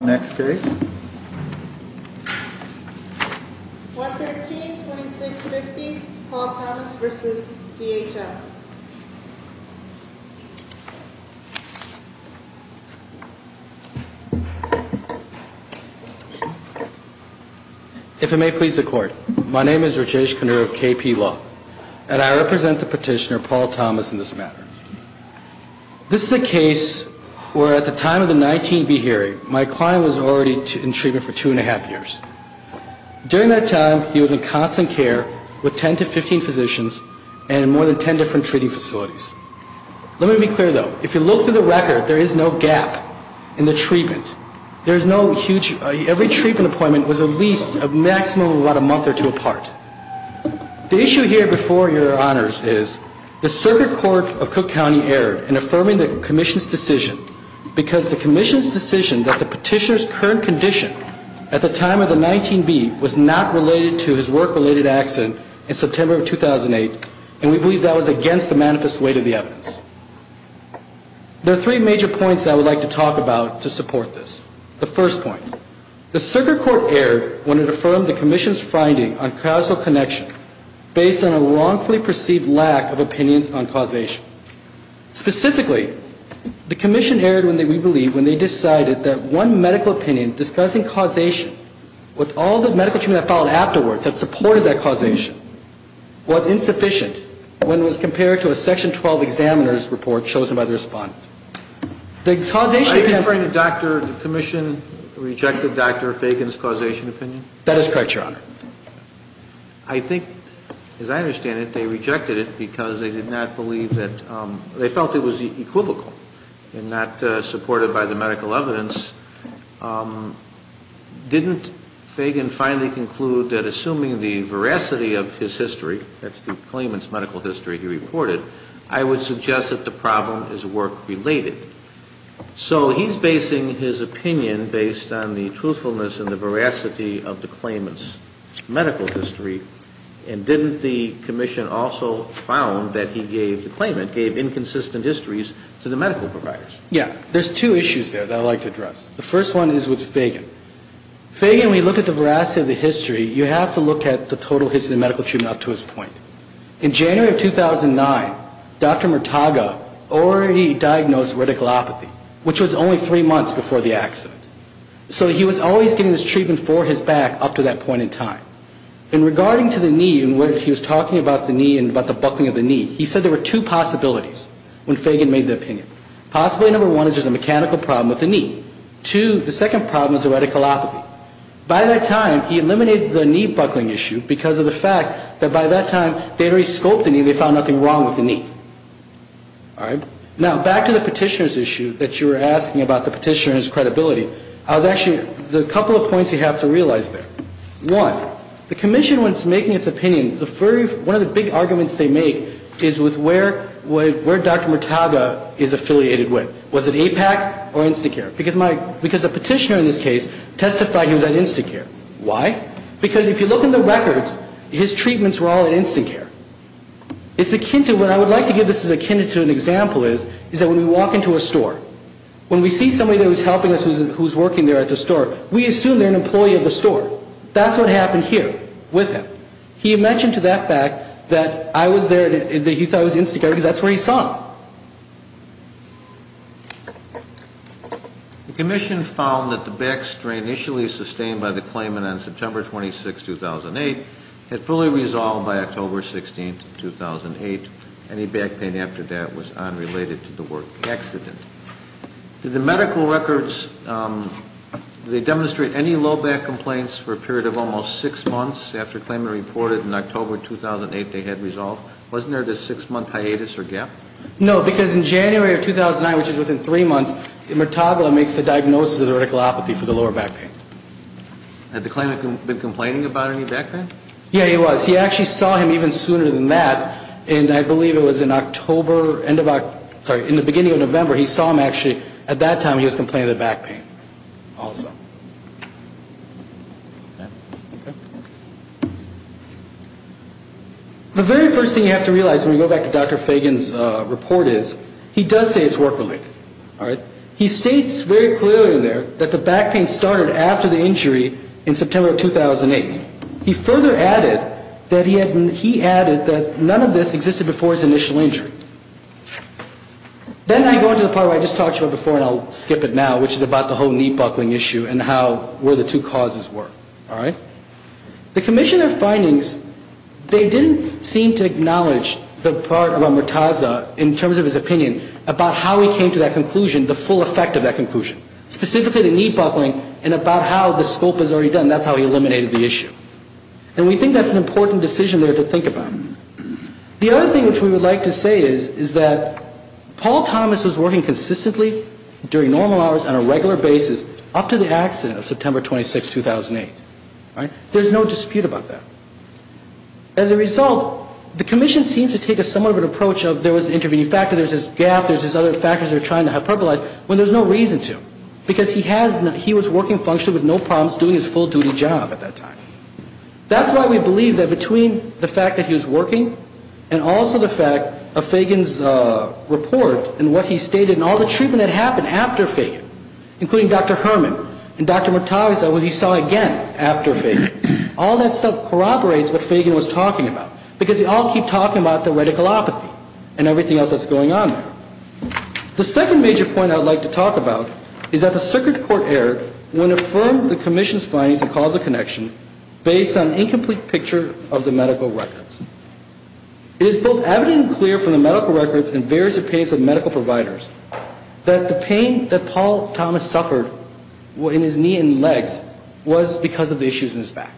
Next case, 113-2650, Paul Thomas v. DHL. If it may please the court, my name is Rajesh Kanur of KP Law, and I represent the petitioner, Paul Thomas, in this matter. This is a case where, at the time of the 19B hearing, my client was already in treatment for two and a half years. During that time, he was in constant care with 10 to 15 physicians and in more than 10 different treating facilities. Let me be clear, though. If you look through the record, there is no gap in the treatment. There is no huge – every treatment appointment was at least a maximum of about a month or two apart. The issue here before your honors is, the Circuit Court of Cook County erred in affirming the Commission's decision because the Commission's decision that the petitioner's current condition at the time of the 19B was not related to his work-related accident in September of 2008, and we believe that was against the manifest weight of the evidence. There are three major points I would like to talk about to support this. The first point, the Circuit Court erred when it affirmed the Commission's finding on casual connection based on a wrongfully perceived lack of opinions on causation. Specifically, the Commission erred, we believe, when they decided that one medical opinion discussing causation with all the medical treatment that followed afterwards that supported that causation was insufficient when it was compared to a Section 12 examiner's report chosen by the respondent. The causation – Are you referring to Dr. – the Commission rejected Dr. Fagan's causation opinion? That is correct, your honor. I think, as I understand it, they rejected it because they did not believe that – they felt it was equivocal and not supported by the medical evidence. Didn't Fagan finally conclude that assuming the veracity of his history, that's the claimant's medical history he reported, I would suggest that the problem is work-related? So he's basing his opinion based on the truthfulness and the veracity of the claimant's medical history, and didn't the Commission also found that he gave – the claimant gave inconsistent histories to the medical providers? Yeah. There's two issues there that I'd like to address. The first one is with Fagan. Fagan, when you look at the veracity of the history, you have to look at the total history of the medical treatment up to his point. In January of 2009, Dr. Murtaga already diagnosed reticulopathy, which was only three months before the accident. So he was always getting this treatment for his back up to that point in time. And regarding to the knee and whether he was talking about the knee and about the buckling of the knee, he said there were two possibilities when Fagan made the opinion. Possibility number one is there's a mechanical problem with the knee. Two, the second problem is the reticulopathy. By that time, he eliminated the knee buckling issue because of the fact that by that time, they had already scoped the knee and they found nothing wrong with the knee. All right? Now, back to the petitioner's issue that you were asking about the petitioner and his credibility, there's actually a couple of points you have to realize there. One, the Commission, when it's making its opinion, one of the big arguments they make is with where Dr. Murtaga is affiliated with. Was it APAC or Instacare? Because the petitioner in this case testified he was at Instacare. Why? Because if you look in the records, his treatments were all at Instacare. It's akin to what I would like to give this as akin to an example is that when we walk into a store, when we see somebody that was helping us who's working there at the store, we assume they're an employee of the store. That's what happened here with him. He mentioned to that fact that I was there, that he thought I was at Instacare because that's where he saw him. The Commission found that the back strain initially sustained by the claimant on September 26, 2008, had fully resolved by October 16, 2008. Any back pain after that was unrelated to the work accident. Did the medical records, did they demonstrate any low back complaints for a period of almost six months after the claimant reported in October 2008 they had resolved? Wasn't there this six-month hiatus or gap? No, because in January of 2009, which is within three months, Murtaga makes the diagnosis of the vertical apathy for the lower back pain. Had the claimant been complaining about any back pain? Yeah, he was. He actually saw him even sooner than that, and I believe it was in October, end of October, The very first thing you have to realize when you go back to Dr. Fagan's report is he does say it's work-related. All right? He states very clearly there that the back pain started after the injury in September of 2008. He further added that he had, he added that none of this existed before his initial injury. Then I go into the part where I just talked to you about before, and I'll skip it now, which is about the whole knee-buckling issue and how, where the two causes were. All right? The commissioner's findings, they didn't seem to acknowledge the part about Murtaga in terms of his opinion about how he came to that conclusion, the full effect of that conclusion, specifically the knee-buckling and about how the scope was already done. That's how he eliminated the issue. And we think that's an important decision there to think about. The other thing which we would like to say is that Paul Thomas was working consistently during normal hours on a regular basis up to the accident of September 26, 2008. All right? There's no dispute about that. As a result, the commission seems to take somewhat of an approach of there was an intervening factor, there's this gap, there's these other factors they're trying to hyperbolize when there's no reason to because he was working functionally with no problems doing his full-duty job at that time. That's why we believe that between the fact that he was working and also the fact of Fagan's report and what he stated and all the treatment that happened after Fagan, including Dr. Herman and Dr. Murtaga, what he saw again after Fagan, all that stuff corroborates what Fagan was talking about because they all keep talking about the reticulopathy and everything else that's going on there. The second major point I would like to talk about is that the circuit court error when affirmed the commission's findings and cause of connection based on an incomplete picture of the medical records. It is both evident and clear from the medical records and various opinions of medical providers that the pain that Paul Thomas suffered in his knee and legs was because of the issues in his back.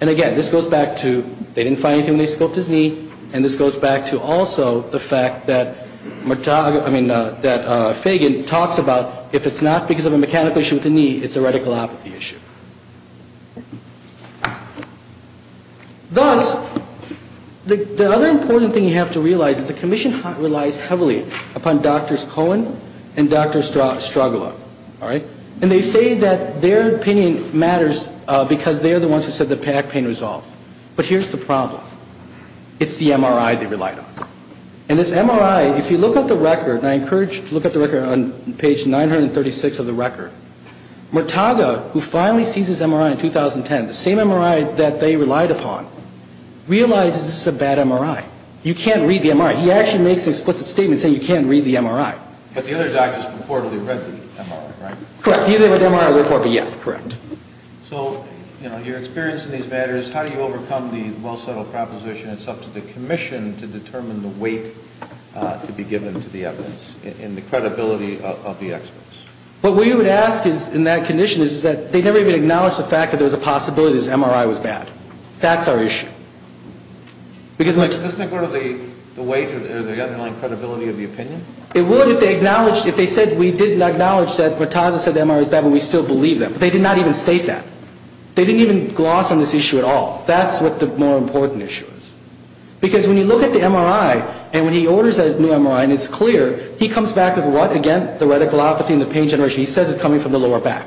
And again, this goes back to they didn't find anything when they scoped his knee, and this goes back to also the fact that Fagan talks about if it's not because of a mechanical issue with the knee, it's a reticulopathy issue. Thus, the other important thing you have to realize is the commission relies heavily upon Drs. Cohen and Dr. Strugola. All right? And they say that their opinion matters because they're the ones who said the back pain was solved. But here's the problem. It's the MRI they relied on. And this MRI, if you look at the record, and I encourage you to look at the record on page 936 of the record, Murtaga, who finally sees his MRI in 2010, the same MRI that they relied upon, realizes this is a bad MRI. You can't read the MRI. He actually makes an explicit statement saying you can't read the MRI. But the other doctors reportedly read the MRI, right? Correct. Either they read the MRI or the report, but yes, correct. So, you know, your experience in these matters, how do you overcome the well-settled proposition it's up to the commission to determine the weight to be given to the evidence and the credibility of the experts? What we would ask in that condition is that they never even acknowledge the fact that there's a possibility this MRI was bad. That's our issue. Because... Doesn't it go to the weight or the underlying credibility of the opinion? It would if they acknowledged, if they said we didn't acknowledge that Murtaga said the MRI was bad but we still believe them. But they did not even state that. They didn't even gloss on this issue at all. That's what the more important issue is. Because when you look at the MRI and when he orders that new MRI and it's clear, he comes back with what? Again, the reticulopathy and the pain generation. He says it's coming from the lower back.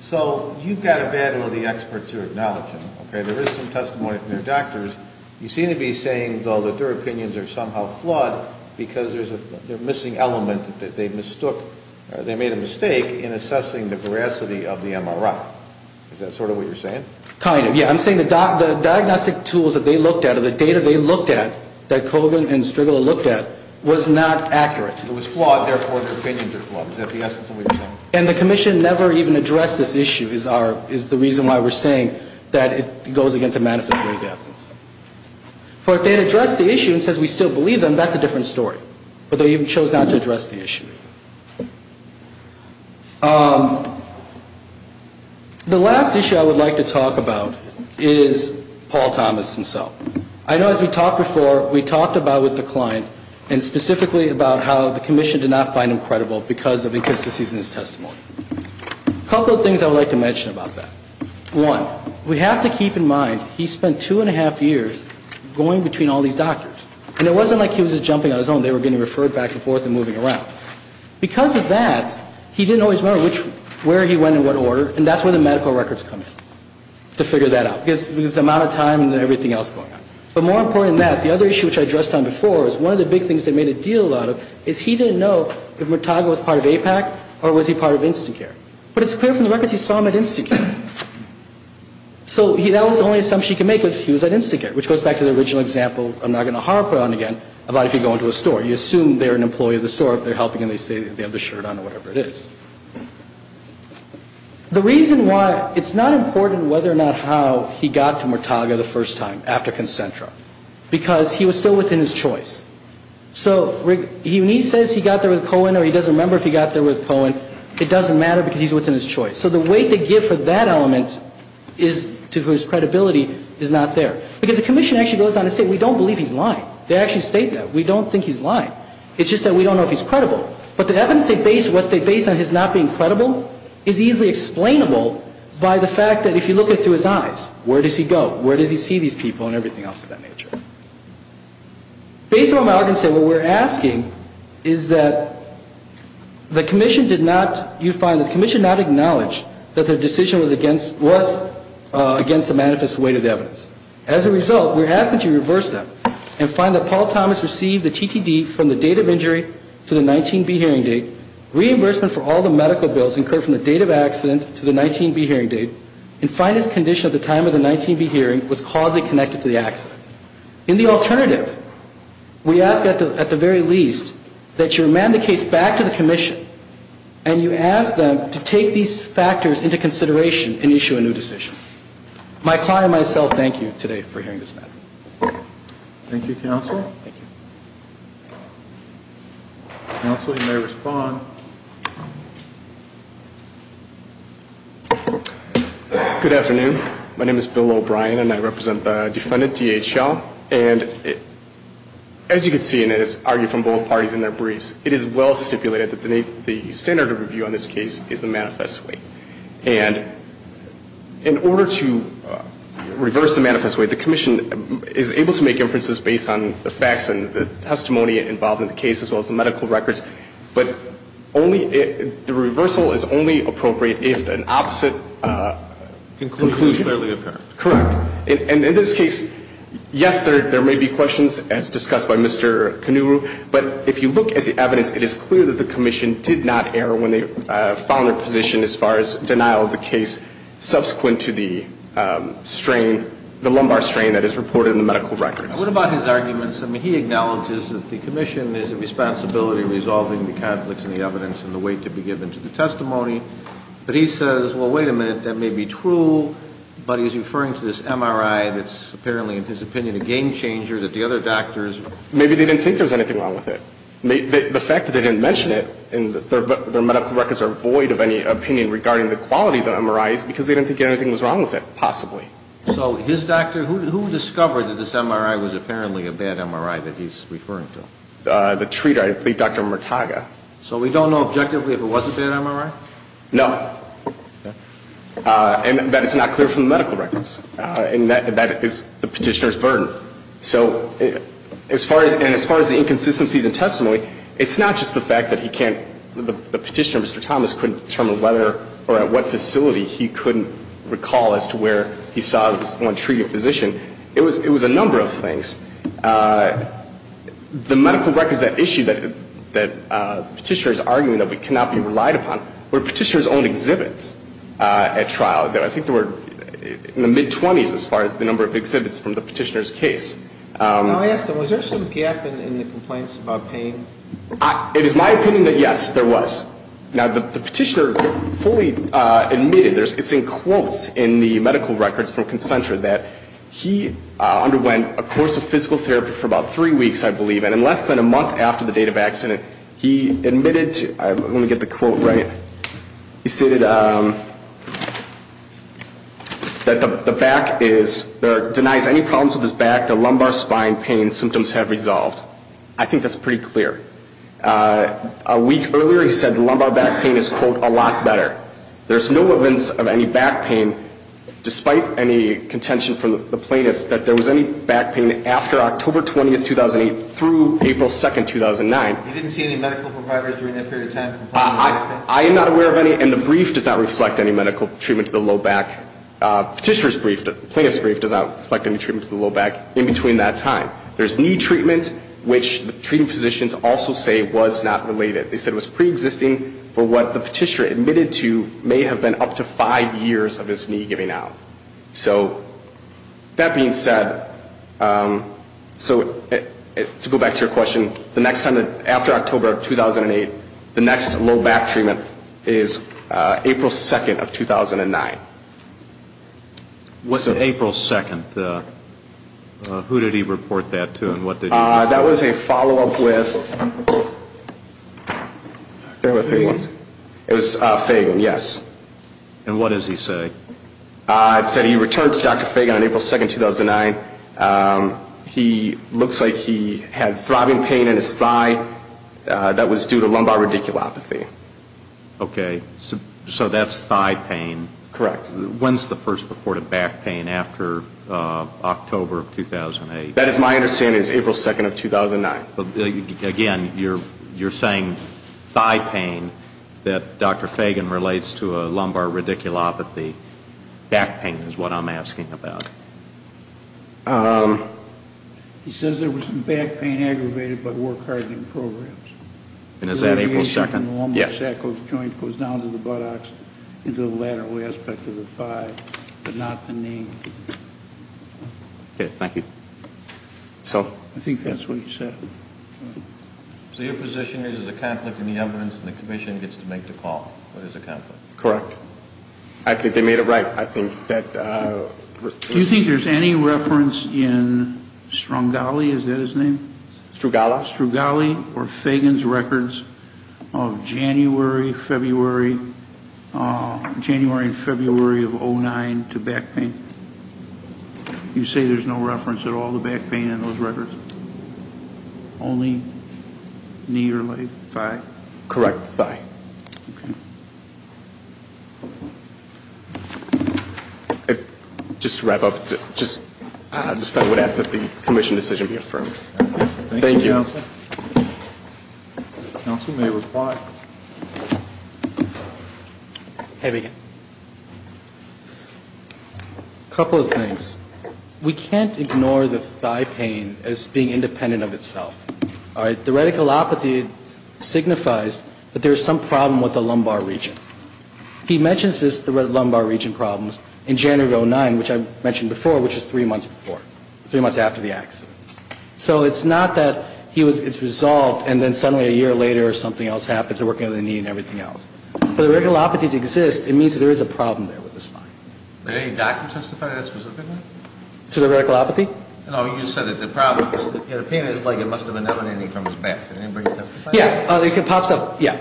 So you've got a bad will of the experts who acknowledge him, okay? There is some testimony from their doctors. You seem to be saying, though, that their opinions are somehow flawed because there's a missing element that they mistook or they made a mistake in assessing the veracity of the MRI. Is that sort of what you're saying? Kind of, yeah. I'm saying the diagnostic tools that they looked at or the data they looked at, that Kogan and Strigler looked at, was not accurate. It was flawed. Therefore, their opinions are flawed. Is that the essence of what you're saying? And the commission never even addressed this issue is the reason why we're saying that it goes against the manifest way of evidence. For if they had addressed the issue and said we still believe them, that's a different story. But they even chose not to address the issue. The last issue I would like to talk about is Paul Thomas himself. I know as we talked before, we talked about with the client and specifically about how the commission did not find him credible because of inconsistencies in his testimony. A couple of things I would like to mention about that. One, we have to keep in mind he spent two and a half years going between all these doctors. And it wasn't like he was just jumping on his own. They were getting referred back and forth and moving around. Because of that, he didn't always remember where he went and what order. And that's where the medical records come in, to figure that out. Because of the amount of time and everything else going on. But more important than that, the other issue which I addressed on before is one of the big things they made a deal out of is he didn't know if Murtaga was part of AIPAC or was he part of Instacare. But it's clear from the records he saw him at Instacare. So that was the only assumption he could make was he was at Instacare, which goes back to the original example I'm not going to harp on again about if you go into a store. You assume they're an employee of the store if they're helping and they say they have the shirt on or whatever it is. The reason why it's not important whether or not how he got to Murtaga the first time after Concentra, because he was still within his choice. So when he says he got there with Cohen or he doesn't remember if he got there with Cohen, it doesn't matter because he's within his choice. So the weight they give for that element is to whose credibility is not there. Because the commission actually goes on to say we don't believe he's lying. They actually state that. We don't think he's lying. It's just that we don't know if he's credible. But the evidence they base on his not being credible is easily explainable by the fact that if you look it through his eyes, where does he go? Where does he see these people and everything else of that nature? Based on what Morgan said, what we're asking is that the commission did not, you find the commission did not acknowledge that their decision was against the manifest weight of the evidence. As a result, we're asking that you reverse that and find that Paul Thomas received the TTD from the date of injury to the 19B hearing date, reimbursement for all the medical bills incurred from the date of accident to the 19B hearing date, and find his condition at the time of the 19B hearing was causally connected to the accident. In the alternative, we ask at the very least that you remand the case back to the commission and you ask them to take these factors into consideration and issue a new decision. My client and myself thank you today for hearing this matter. Thank you, Counsel. Counsel, you may respond. Good afternoon. My name is Bill O'Brien and I represent the defendant DHL. And as you can see, and it is argued from both parties in their briefs, it is well stipulated that the standard of review on this case is the manifest weight. And in order to reverse the manifest weight, the commission is able to make inferences based on the facts and the testimony involved in the case as well as the medical records. But the reversal is only appropriate if an opposite conclusion is fairly apparent. Correct. And in this case, yes, there may be questions, as discussed by Mr. Kanuru, but if you look at the evidence, it is clear that the commission did not err when they found their position as far as denial of the case subsequent to the strain, the lumbar strain that is reported in the medical records. What about his arguments? I mean, he acknowledges that the commission has a responsibility in resolving the conflicts and the evidence and the weight to be given to the testimony. But he says, well, wait a minute, that may be true, but he's referring to this MRI that's apparently, in his opinion, a game changer that the other doctors ---- Maybe they didn't think there was anything wrong with it. The fact that they didn't mention it and their medical records are void of any opinion regarding the quality of the MRI is because they didn't think anything was wrong with it, possibly. So his doctor, who discovered that this MRI was apparently a bad MRI that he's referring to? The treater, I believe Dr. Murtaga. So we don't know objectively if it was a bad MRI? No. Okay. And that is not clear from the medical records. And that is the Petitioner's burden. So as far as the inconsistencies in testimony, it's not just the fact that he can't ---- The Petitioner, Mr. Thomas, couldn't determine whether or at what facility he couldn't recall as to where he saw this one treated physician. It was a number of things. The medical records that issue that the Petitioner is arguing that we cannot be relied upon were Petitioner's own exhibits at trial. I think they were in the mid-20s as far as the number of exhibits from the Petitioner's case. Now, I asked him, was there some gap in the complaints about pain? It is my opinion that, yes, there was. Now, the Petitioner fully admitted, it's in quotes in the medical records from Consentra, that he underwent a course of physical therapy for about three weeks, I believe, and in less than a month after the date of accident, he admitted to ---- I want to get the quote right. He stated that the back is ---- denies any problems with his back, the lumbar spine pain symptoms have resolved. I think that's pretty clear. A week earlier, he said the lumbar back pain is, quote, a lot better. There's no evidence of any back pain, despite any contention from the plaintiff that there was any back pain after October 20, 2008, through April 2, 2009. You didn't see any medical providers during that period of time? I am not aware of any, and the brief does not reflect any medical treatment to the low back. Petitioner's brief, the plaintiff's brief does not reflect any treatment to the low back in between that time. There's knee treatment, which the treating physicians also say was not related. They said it was preexisting for what the Petitioner admitted to may have been up to five years of his knee giving out. So that being said, so to go back to your question, the next time, after October 2008, the next low back treatment is April 2, 2009. What's April 2? Who did he report that to and what did he do? That was a follow-up with Fagan, yes. And what does he say? It said he returned to Dr. Fagan on April 2, 2009. He looks like he had throbbing pain in his thigh that was due to lumbar radiculopathy. Okay. So that's thigh pain. Correct. When's the first report of back pain after October of 2008? That is my understanding is April 2, 2009. Again, you're saying thigh pain that Dr. Fagan relates to a lumbar radiculopathy. Back pain is what I'm asking about. He says there was some back pain aggravated by work-hardening programs. And is that April 2? Yes. The lumbar sacral joint goes down to the buttocks into the lateral aspect of the thigh, but not the knee. Okay. Thank you. I think that's what he said. So your position is there's a conflict in the evidence and the commission gets to make the call. There's a conflict. Correct. I think they made it right. Do you think there's any reference in Strugali, is that his name? Strugali. Strugali or Fagan's records of January, February, January and February of 2009 to back pain? You say there's no reference at all to back pain in those records? Only knee or leg, thigh? Correct, thigh. Okay. Just to wrap up, the federal would ask that the commission decision be affirmed. Thank you. Thank you, Counsel. Counsel may reply. Hey, Megan. A couple of things. We can't ignore the thigh pain as being independent of itself. All right? The reticulopathy signifies that there is some problem with the lumbar region. He mentions this, the lumbar region problems, in January of 2009, which I mentioned before, which was three months before, three months after the accident. So it's not that it's resolved and then suddenly a year later something else happens, because they're working on the knee and everything else. For the reticulopathy to exist, it means that there is a problem there with the spine. Did any doctor testify to that specifically? To the reticulopathy? No, you said that the pain is like it must have been evident and he comes back. Did anybody testify? Yeah. It pops up. Yeah.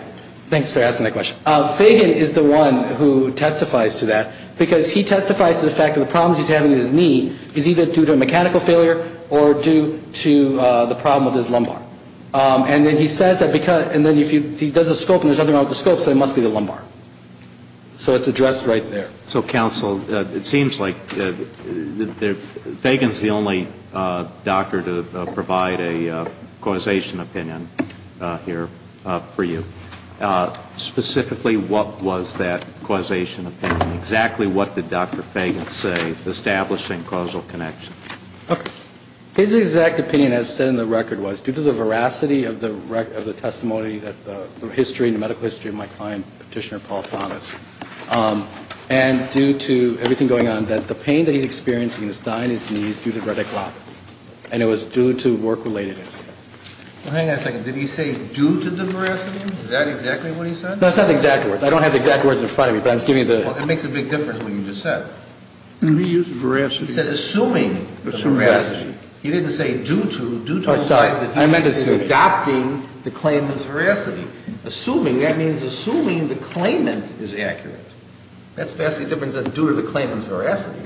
Thanks for asking that question. Fagan is the one who testifies to that, because he testifies to the fact that the problems he's having in his knee is either due to a mechanical failure or due to the problem with his lumbar. And then he says that because, and then if he does a scope and there's something wrong with the scope, so it must be the lumbar. So it's addressed right there. So, counsel, it seems like Fagan's the only doctor to provide a causation opinion here for you. Specifically, what was that causation opinion? Exactly what did Dr. Fagan say establishing causal connection? His exact opinion, as said in the record, was due to the veracity of the testimony, the history, the medical history of my client, Petitioner Paul Thomas, and due to everything going on, that the pain that he's experiencing is not in his knees due to reticulopathy, and it was due to work-relatedness. Hang on a second. Did he say due to the veracity? Is that exactly what he said? No, it's not the exact words. I don't have the exact words in front of me, but I was giving you the… Well, it makes a big difference what you just said. Did he use veracity? He said assuming the veracity. He didn't say due to, due to the fact that he is adopting the claimant's veracity. Assuming, that means assuming the claimant is accurate. That's vastly different than due to the claimant's veracity.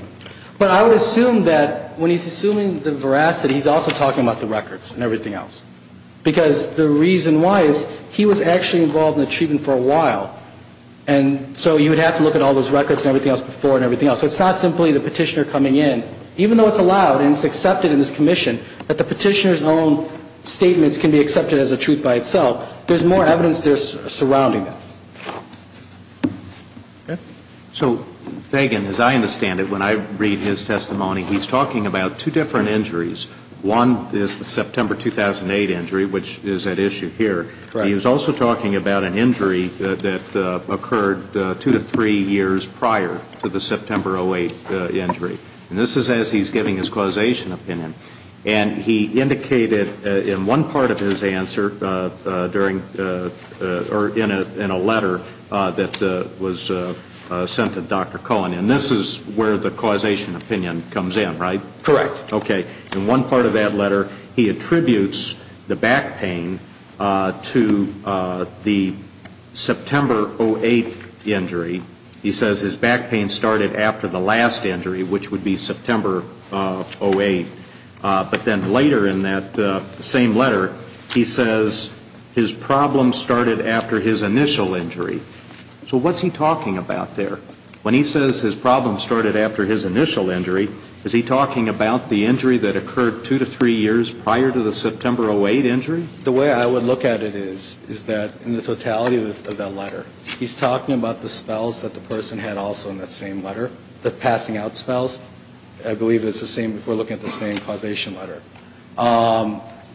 But I would assume that when he's assuming the veracity, he's also talking about the records and everything else. Because the reason why is he was actually involved in the treatment for a while, and so you would have to look at all those records and everything else before and everything else. So it's not simply the petitioner coming in. Even though it's allowed and it's accepted in this commission, that the petitioner's own statements can be accepted as a truth by itself, there's more evidence surrounding that. So, Megan, as I understand it, when I read his testimony, he's talking about two different injuries. One is the September 2008 injury, which is at issue here. He was also talking about an injury that occurred two to three years prior to the September 2008 injury. And this is as he's giving his causation opinion. And he indicated in one part of his answer during, or in a letter that was sent to Dr. Cohen, and this is where the causation opinion comes in, right? Correct. Okay. In one part of that letter, he attributes the back pain to the September 2008 injury. He says his back pain started after the last injury, which would be September 2008. But then later in that same letter, he says his problem started after his initial injury. So what's he talking about there? When he says his problem started after his initial injury, is he talking about the injury that occurred two to three years prior to the September 2008 injury? The way I would look at it is, is that in the totality of that letter, he's talking about the spells that the person had also in that same letter, the passing out spells. I believe it's the same if we're looking at the same causation letter.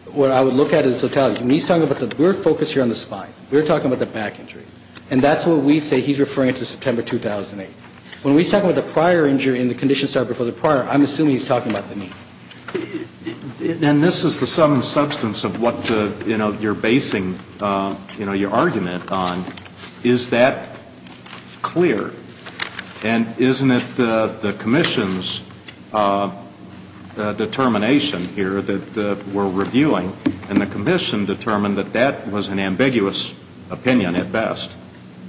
What I would look at is the totality. He's talking about the, we're focused here on the spine. We're talking about the back injury. And that's what we say he's referring to September 2008. When he's talking about the prior injury and the condition started before the prior, I'm assuming he's talking about the knee. And this is the sum and substance of what, you know, you're basing, you know, your argument on. Is that clear? And isn't it the commission's determination here that we're reviewing, and the commission determined that that was an ambiguous opinion at best?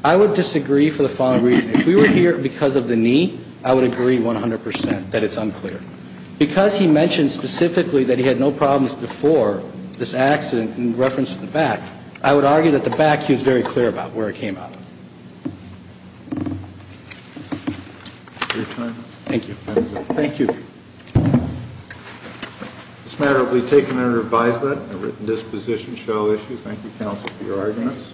I would disagree for the following reason. If we were here because of the knee, I would agree 100% that it's unclear. Because he mentioned specifically that he had no problems before this accident in reference to the back, I would argue that the back he was very clear about where it came out of. Your time is up. Thank you. Thank you. Thank you. This matter will be taken under advisement. A written disposition shall issue. Thank you, counsel, for your arguments.